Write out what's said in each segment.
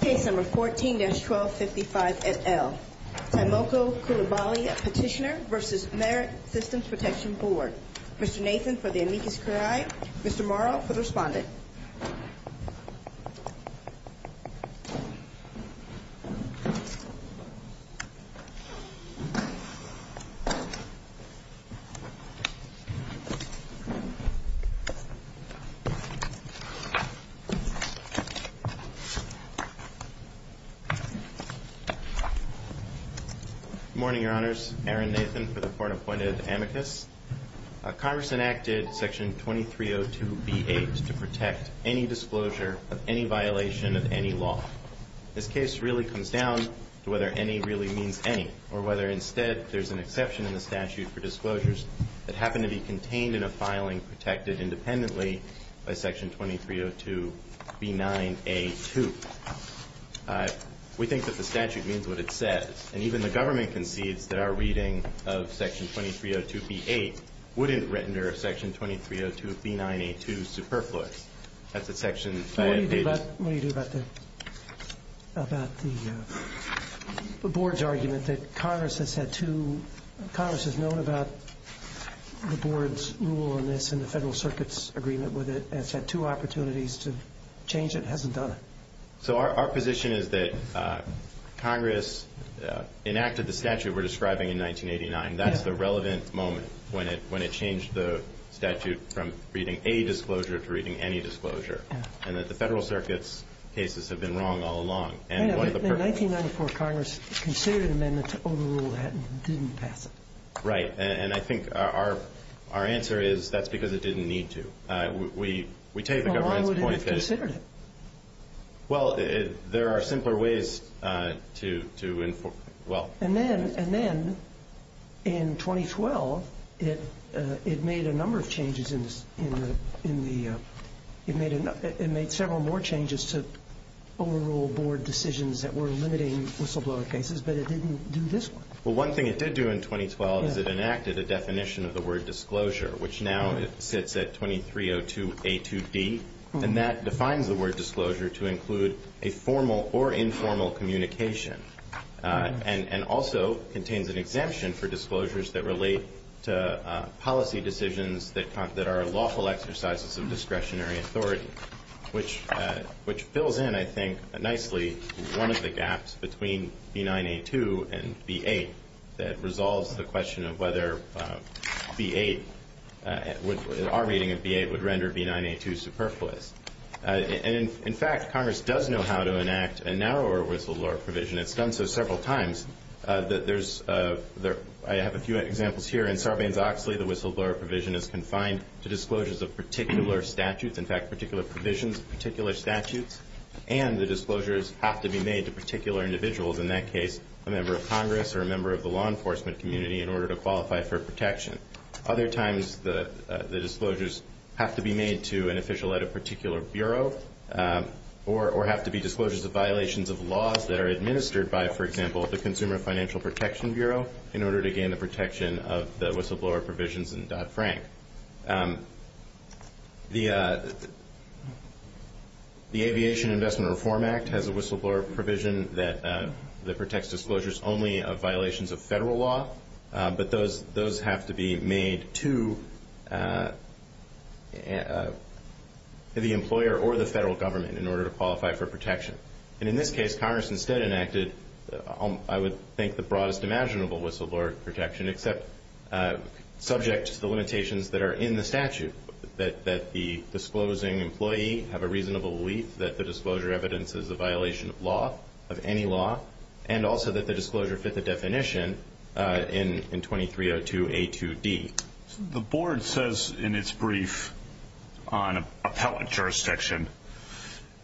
Case No. 14-1255 et al., Tiemoko Coulibaly Petitioner v. Merit Systems Protection Board. Mr. Nathan for the amicus curiae, Mr. Morrow for the respondent. Good morning, Your Honors. Aaron Nathan for the court-appointed amicus. Congress enacted Section 2302B8 to protect any disclosure of any violation of any law. This case really comes down to whether any really means any, or whether instead there's an exception in the statute for disclosures that happen to be contained in a filing protected independently by Section 2302B9A2. We think that the statute means what it says. And even the government concedes that our reading of Section 2302B8 wouldn't render Section 2302B9A2 superfluous. That's a Section 4. What do you do about the Board's argument that Congress has had two, Congress has known about the Board's rule on this in the Federal Circuit's agreement with it, has had two opportunities to change it, hasn't done it? So our position is that Congress enacted the statute we're describing in 1989. That's the relevant moment when it changed the statute from reading a disclosure to reading any disclosure. And that the Federal Circuit's cases have been wrong all along. In 1994, Congress considered an amendment to overrule that and didn't pass it. Right. And I think our answer is that's because it didn't need to. We take the government's point that... Well, why would it have considered it? Well, there are simpler ways to... And then, in 2012, it made a number of changes in the, it made several more changes to overrule Board decisions that were limiting whistleblower cases, but it didn't do this one. Well, one thing it did do in 2012 is it enacted a definition of the word disclosure, which now sits at 2302A2D, and that defines the word disclosure to include a formal or informal communication, and also contains an exemption for disclosures that relate to policy decisions that are lawful exercises of discretionary authority, which fills in, I think, nicely one of the gaps between B9A2 and B8 that resolves the question of whether B8, our reading of B8, would render B9A2 superfluous. And, in fact, Congress does know how to enact a narrower whistleblower provision. It's done so several times. There's, I have a few examples here. In Sarbanes-Oxley, the whistleblower provision is confined to disclosures of particular statutes, in fact, particular provisions, particular statutes, and the disclosures have to be made to particular individuals, in that case, a member of Congress or a member of the law enforcement community, in order to qualify for protection. Other times, the disclosures have to be made to an official at a particular bureau, or have to be disclosures of violations of laws that are administered by, for example, the Consumer Financial Protection Bureau in order to gain the protection of the whistleblower provisions in Dodd-Frank. The Aviation Investment Reform Act has a whistleblower provision that protects disclosures only of violations of federal law, but those have to be made to the employer or the federal government in order to qualify for protection. And, in this case, Congress instead enacted, I would think, the broadest imaginable whistleblower protection, except subject to the limitations that are in the statute, that the disclosing employee have a reasonable belief that the disclosure evidence is a violation of law, of any law, and also that the disclosure fit the definition in 2302A2D. The Board says in its brief on appellate jurisdiction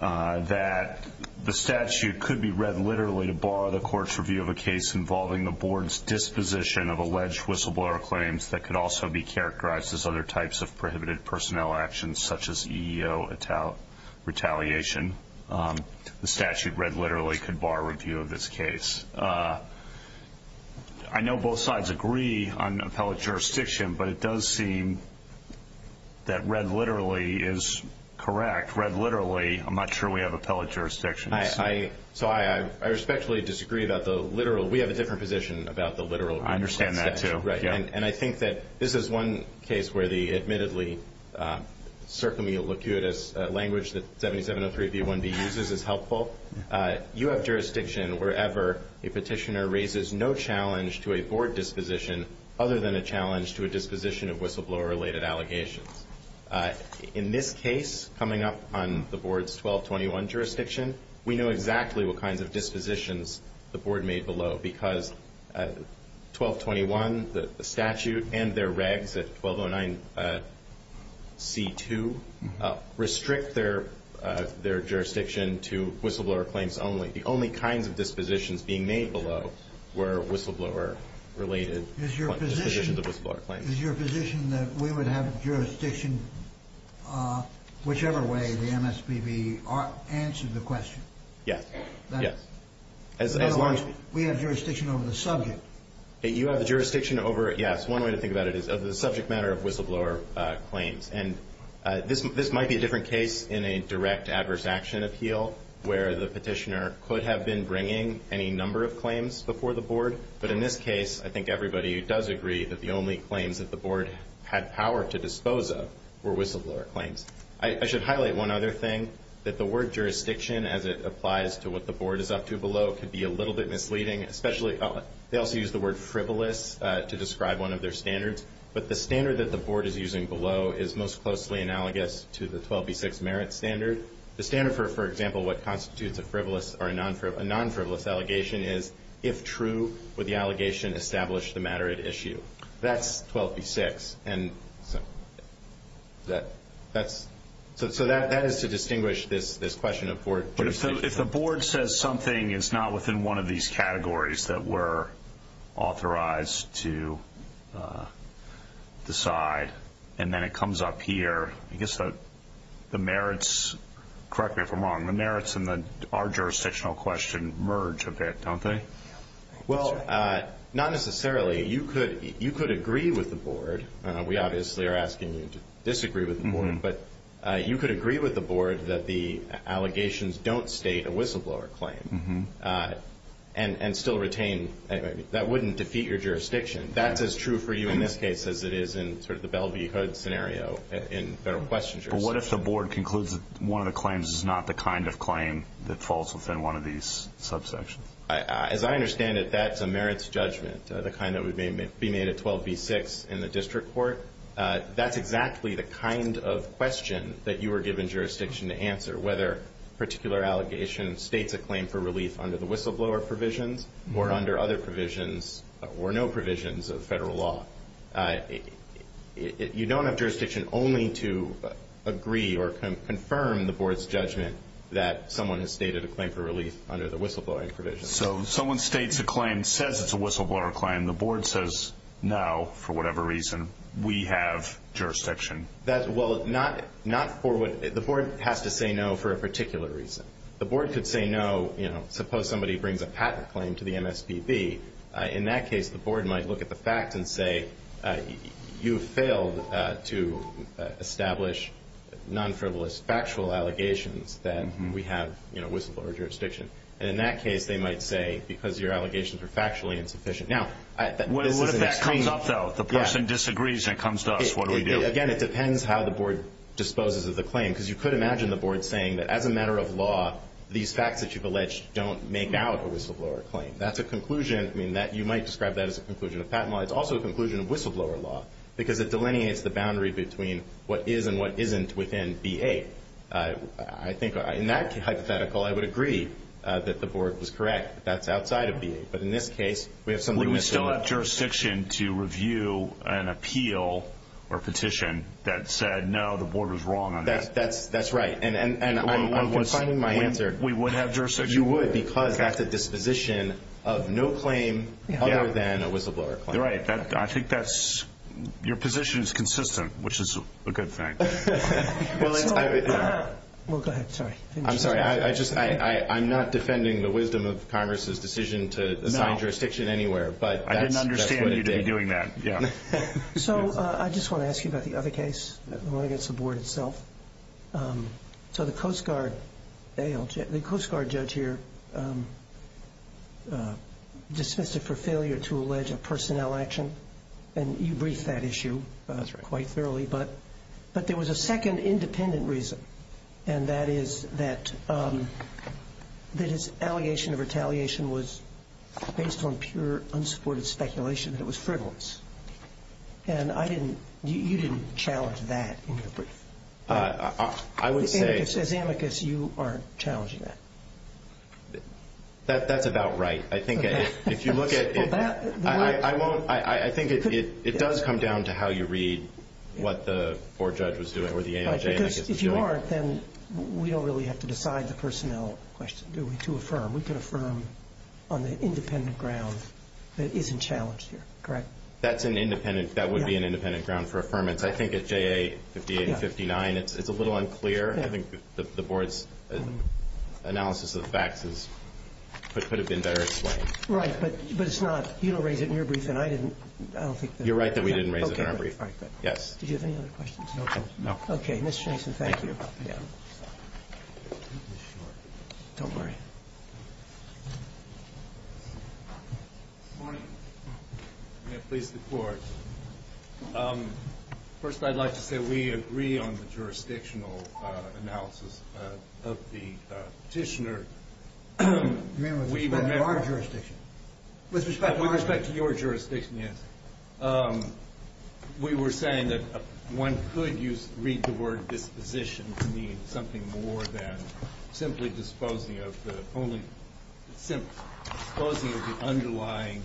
that the statute could be read literally to bar the Court's review of a case involving the Board's disposition of alleged whistleblower claims that could also be characterized as other types of prohibited personnel actions, such as EEO retaliation. The statute read literally could bar review of this case. I know both sides agree on appellate jurisdiction, but it does seem that read literally is correct. Read literally, I'm not sure we have appellate jurisdiction. So I respectfully disagree about the literal. We have a different position about the literal. I understand that, too. Right. And I think that this is one case where the admittedly circumelicutous language that 7703B1B uses is helpful. You have jurisdiction wherever a petitioner raises no challenge to a Board disposition other than a challenge to a disposition of whistleblower-related allegations. In this case, coming up on the Board's 1221 jurisdiction, we know exactly what kinds of dispositions the Board made below because 1221, the statute, and their regs at 1209C2 restrict their jurisdiction to whistleblower claims only. The only kinds of dispositions being made below were whistleblower-related dispositions of whistleblower claims. Is your position that we would have jurisdiction whichever way the MSPB answered the question? Yes. Yes. As long as we have jurisdiction over the subject. You have jurisdiction over it, yes. One way to think about it is the subject matter of whistleblower claims. And this might be a different case in a direct adverse action appeal But in this case, I think everybody who does agree that the only claims that the Board had power to dispose of were whistleblower claims. I should highlight one other thing. That the word jurisdiction, as it applies to what the Board is up to below, could be a little bit misleading. They also use the word frivolous to describe one of their standards. But the standard that the Board is using below is most closely analogous to the 12B6 merit standard. The standard for, for example, what constitutes a frivolous or a non-frivolous allegation is if true, would the allegation establish the matter at issue? That's 12B6. So that is to distinguish this question of board jurisdiction. But if the Board says something is not within one of these categories that we're authorized to decide, and then it comes up here, I guess the merits, correct me if I'm wrong, the merits in our jurisdictional question merge a bit, don't they? Well, not necessarily. You could agree with the Board. We obviously are asking you to disagree with the Board. But you could agree with the Board that the allegations don't state a whistleblower claim and still retain. That wouldn't defeat your jurisdiction. That's as true for you in this case as it is in sort of the Belle v. Hood scenario in federal questions. But what if the Board concludes that one of the claims is not the kind of claim that falls within one of these subsections? As I understand it, that's a merits judgment, the kind that would be made at 12B6 in the district court. That's exactly the kind of question that you were given jurisdiction to answer, whether a particular allegation states a claim for relief under the whistleblower provisions or under other provisions or no provisions of federal law. You don't have jurisdiction only to agree or confirm the Board's judgment that someone has stated a claim for relief under the whistleblower provision. So someone states a claim, says it's a whistleblower claim, the Board says now, for whatever reason, we have jurisdiction. Well, not for what the Board has to say no for a particular reason. The Board could say no, suppose somebody brings a patent claim to the MSPB. In that case, the Board might look at the fact and say, you failed to establish non-frivolous factual allegations that we have whistleblower jurisdiction. And in that case, they might say, because your allegations are factually insufficient. What if that comes up, though? The person disagrees and comes to us, what do we do? Again, it depends how the Board disposes of the claim. Because you could imagine the Board saying that as a matter of law, these facts that you've alleged don't make out a whistleblower claim. That's a conclusion. I mean, you might describe that as a conclusion of patent law. It's also a conclusion of whistleblower law because it delineates the boundary between what is and what isn't within B-8. I think in that hypothetical, I would agree that the Board was correct. That's outside of B-8. But in this case, we have something that's not. to review an appeal or petition that said, no, the Board was wrong on that. That's right. And I'm confining my answer. We would have jurisdiction. You would because that's a disposition of no claim other than a whistleblower claim. You're right. I think that's your position is consistent, which is a good thing. Well, go ahead. I'm sorry. I'm not defending the wisdom of Congress's decision to assign jurisdiction anywhere. But that's what it did. I didn't understand you doing that. So I just want to ask you about the other case, the one against the Board itself. So the Coast Guard judge here dismissed it for failure to allege a personnel action. And you briefed that issue quite thoroughly. That's right. But there was a second independent reason, And that is that his allegation of retaliation was based on pure unsupported speculation. It was frivolous. And I didn't you didn't challenge that in your brief. I would say. As amicus, you are challenging that. That's about right. I think if you look at it, I won't. I think it does come down to how you read what the Board judge was doing or the AMJ amicus was doing. Because if you aren't, then we don't really have to decide the personnel question, do we, to affirm. We can affirm on the independent ground that isn't challenged here. Correct? That's an independent. That would be an independent ground for affirmance. I think at JA 58 and 59, it's a little unclear. I think the Board's analysis of the facts could have been better explained. Right. But it's not. You don't raise it in your brief, and I didn't. You're right that we didn't raise it in our brief. Yes. Did you have any other questions? No. Okay. Mr. Mason, thank you. Don't worry. Good morning. May it please the Court. First, I'd like to say we agree on the jurisdictional analysis of the petitioner. You mean with respect to our jurisdiction? With respect to your jurisdiction, yes. We were saying that one could read the word disposition to mean something more than simply disposing of the underlying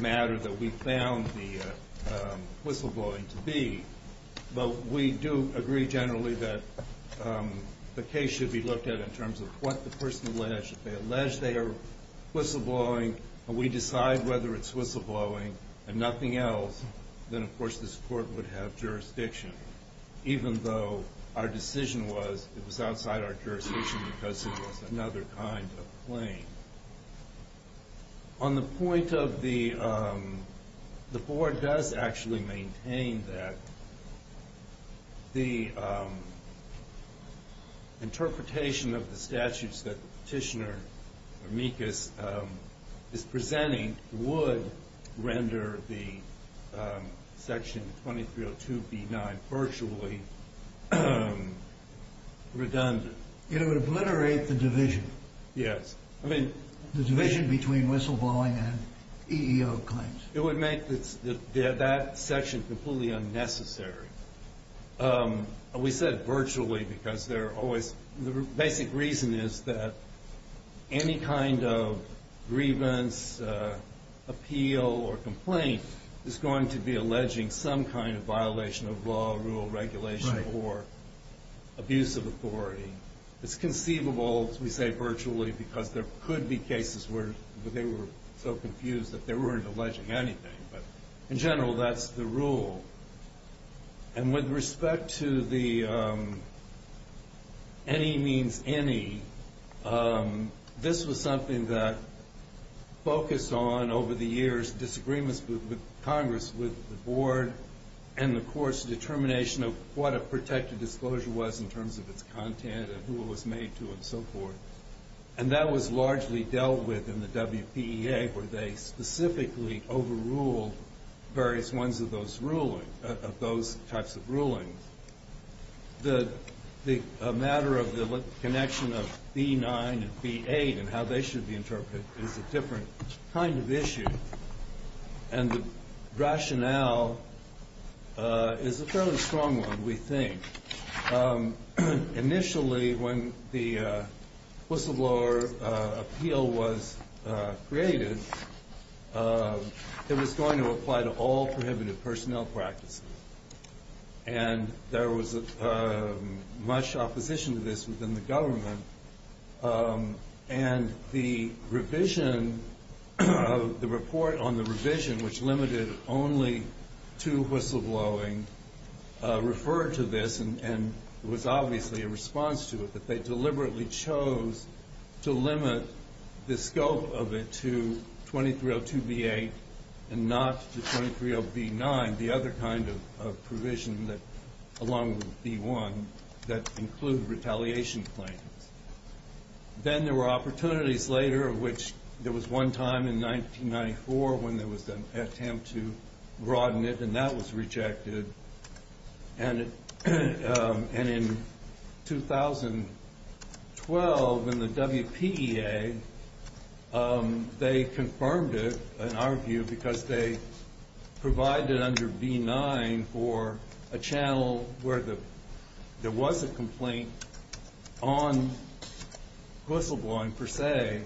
matter that we found the whistleblowing to be. But we do agree generally that the case should be looked at in terms of what the person alleged. If they allege they are whistleblowing and we decide whether it's whistleblowing and nothing else, then, of course, this Court would have jurisdiction. Even though our decision was it was outside our jurisdiction because it was another kind of claim. On the point of the Board does actually maintain that the interpretation of the statutes that the petitioner is presenting would render the Section 2302B9 virtually redundant? It would obliterate the division. Yes. The division between whistleblowing and EEO claims. It would make that section completely unnecessary. We said virtually because the basic reason is that any kind of grievance, appeal, or complaint is going to be alleging some kind of violation of law, rule, regulation, or abuse of authority. It's conceivable we say virtually because there could be cases where they were so confused that they weren't alleging anything. In general, that's the rule. With respect to the any means any, this was something that focused on over the years disagreements with Congress, with the Board, and, of course, determination of what a protected disclosure was in terms of its content and who it was made to and so forth. And that was largely dealt with in the WPEA where they specifically overruled various ones of those types of rulings. The matter of the connection of B9 and B8 and how they should be interpreted is a different kind of issue. And the rationale is a fairly strong one, we think. Initially, when the whistleblower appeal was created, it was going to apply to all prohibitive personnel practices. And there was much opposition to this within the government. And the revision of the report on the revision, which limited only to whistleblowing, referred to this. And it was obviously a response to it that they deliberately chose to limit the scope of it to 2302B8 and not to 230B9, the other kind of provision along with B1 that included retaliation claims. Then there were opportunities later, of which there was one time in 1994 when there was an attempt to broaden it, and that was rejected. And in 2012 in the WPEA, they confirmed it, in our view, because they provided under B9 for a channel where there was a complaint on whistleblowing per se.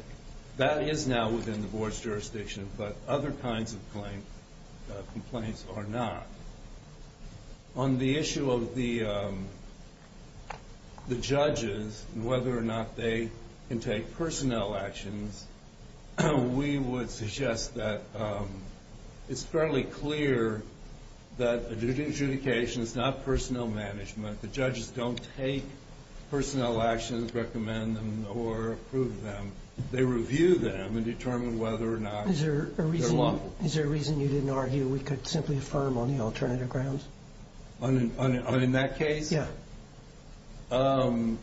That is now within the board's jurisdiction, but other kinds of complaints are not. On the issue of the judges and whether or not they can take personnel actions, we would suggest that it's fairly clear that adjudication is not personnel management. The judges don't take personnel actions, recommend them, or approve them. They review them and determine whether or not they're lawful. Is there a reason you didn't argue we could simply affirm on the alternative grounds? On that case? Yeah. I mean,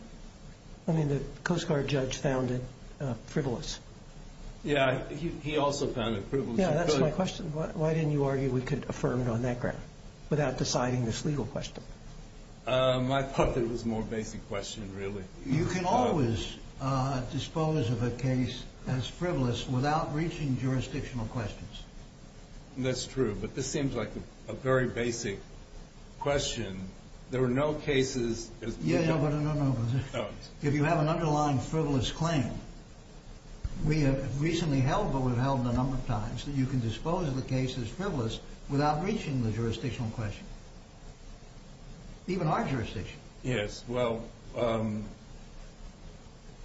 the Coast Guard judge found it frivolous. Yeah, he also found it frivolous. Yeah, that's my question. Why didn't you argue we could affirm it on that ground without deciding this legal question? I thought that it was a more basic question, really. You can always dispose of a case as frivolous without reaching jurisdictional questions. That's true, but this seems like a very basic question. There were no cases as frivolous. Yeah, no, but if you have an underlying frivolous claim, we have recently held, or we've held a number of times, that you can dispose of the case as frivolous without reaching the jurisdictional question, even our jurisdiction. Yes, well.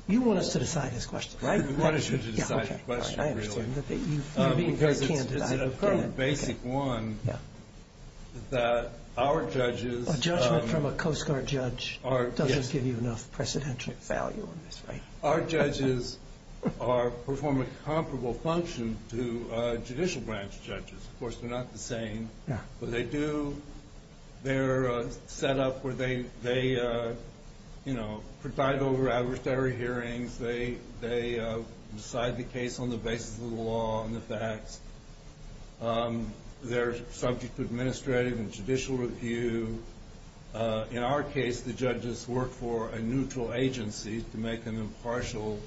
You want us to decide this question, right? We want you to decide the question, really. You're being very candid. It's a basic one that our judges. A judgment from a Coast Guard judge doesn't give you enough precedential value in this, right? Our judges perform a comparable function to judicial branch judges. Of course, they're not the same, but they do. They're set up where they preside over adversary hearings. They decide the case on the basis of the law and the facts. They're subject to administrative and judicial review. In our case, the judges work for a neutral agency to make an impartial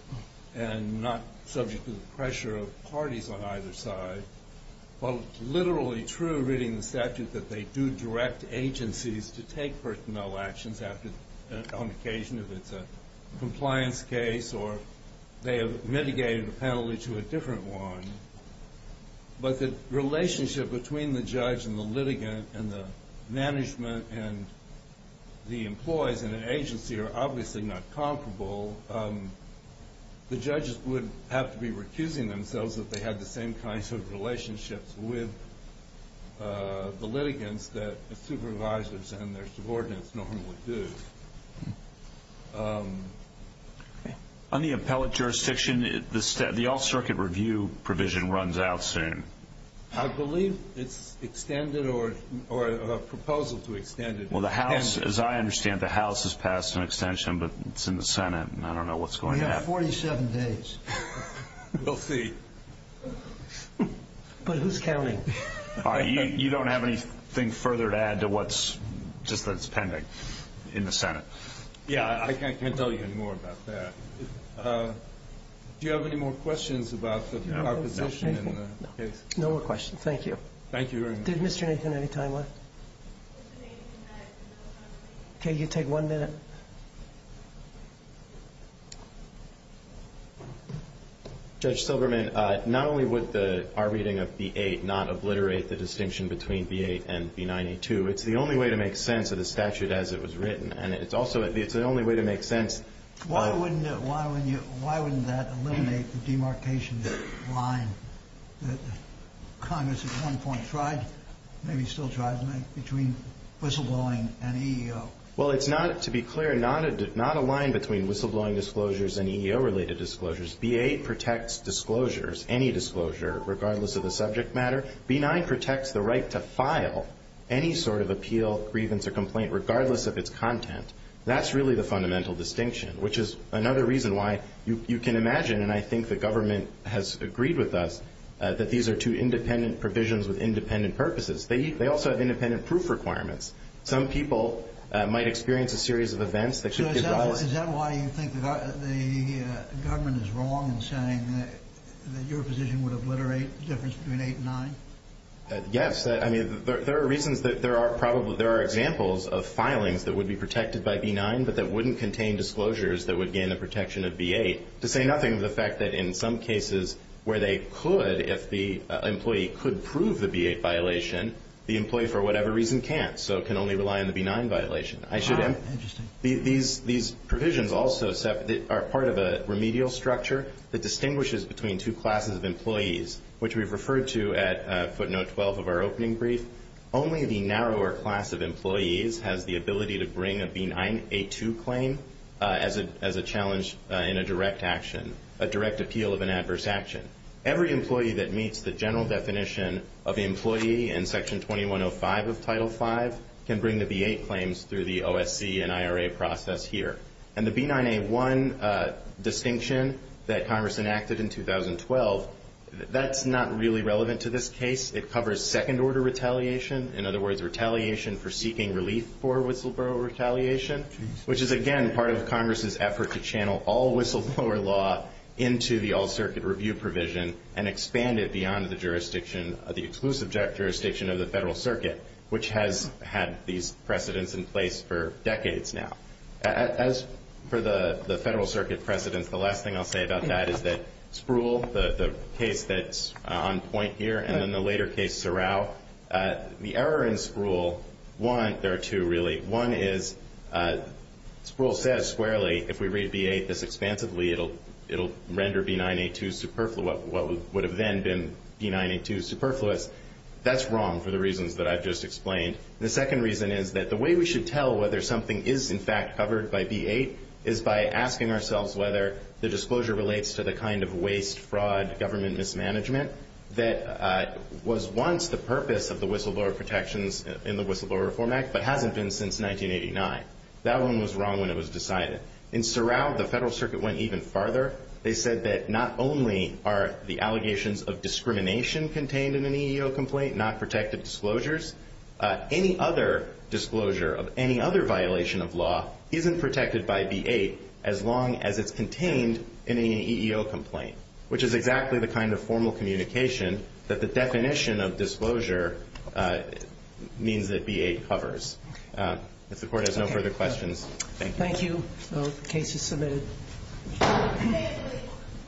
and not subject to the pressure of parties on either side. While it's literally true, reading the statute, that they do direct agencies to take personnel actions on occasion if it's a compliance case or they have mitigated a penalty to a different one, but the relationship between the judge and the litigant and the management and the employees in an agency are obviously not comparable. The judges would have to be recusing themselves if they had the same kinds of relationships with the litigants that the supervisors and their subordinates normally do. On the appellate jurisdiction, the All-Circuit Review provision runs out soon. I believe it's extended or a proposal to extend it. Well, the House, as I understand, the House has passed an extension, but it's in the Senate, and I don't know what's going to happen. We have 47 days. We'll see. But who's counting? You don't have anything further to add to what's just that it's pending in the Senate? Yeah, I can't tell you any more about that. Do you have any more questions about the proposition in the case? No more questions. Thank you. Thank you very much. Did Mr. Nathan have any time left? Okay, you take one minute. Judge Silberman, not only would our reading of B-8 not obliterate the distinction between B-8 and B-92, it's the only way to make sense of the statute as it was written, and it's also the only way to make sense. Why wouldn't that eliminate the demarcation line that Congress at one point tried, maybe still tries to make, between whistleblowing and EEO? Well, it's not, to be clear, not aligned between whistleblowing disclosures and EEO-related disclosures. B-8 protects disclosures, any disclosure, regardless of the subject matter. B-9 protects the right to file any sort of appeal, grievance, or complaint, regardless of its content. That's really the fundamental distinction, which is another reason why you can imagine, and I think the government has agreed with us, that these are two independent provisions with independent purposes. They also have independent proof requirements. Some people might experience a series of events that should be addressed. So is that why you think the government is wrong in saying that your position would obliterate the difference between B-8 and B-9? Yes. I mean, there are reasons that there are examples of filings that would be protected by B-9 but that wouldn't contain disclosures that would gain the protection of B-8, to say nothing of the fact that in some cases where they could, if the employee could prove the B-8 violation, the employee, for whatever reason, can't, so can only rely on the B-9 violation. Interesting. These provisions also are part of a remedial structure that distinguishes between two classes of employees, which we've referred to at footnote 12 of our opening brief. Only the narrower class of employees has the ability to bring a B-9A2 claim as a challenge in a direct action, a direct appeal of an adverse action. Every employee that meets the general definition of employee in Section 2105 of Title V can bring the B-8 claims through the OSC and IRA process here. And the B-9A1 distinction that Congress enacted in 2012, that's not really relevant to this case. It covers second-order retaliation, in other words, retaliation for seeking relief for whistleblower retaliation, which is, again, part of Congress's effort to channel all whistleblower law into the All-Circuit Review provision and expand it beyond the jurisdiction, the exclusive jurisdiction of the Federal Circuit, which has had these precedents in place for decades now. As for the Federal Circuit precedents, the last thing I'll say about that is that Spruill, the case that's on point here, and then the later case, Sorrell, the error in Spruill, there are two, really. One is Spruill says squarely, if we read B-8 this expansively, it'll render B-9A2 superfluous, what would have then been B-9A2 superfluous. That's wrong for the reasons that I've just explained. The second reason is that the way we should tell whether something is in fact covered by B-8 is by asking ourselves whether the disclosure relates to the kind of waste, fraud, government mismanagement that was once the purpose of the whistleblower protections in the Whistleblower Reform Act but hasn't been since 1989. That one was wrong when it was decided. In Sorrell, the Federal Circuit went even farther. They said that not only are the allegations of discrimination contained in an EEO complaint, not protected disclosures, any other disclosure of any other violation of law isn't protected by B-8 as long as it's contained in an EEO complaint, which is exactly the kind of formal communication that the definition of disclosure means that B-8 covers. If the Court has no further questions, thank you. Thank you. The case is submitted.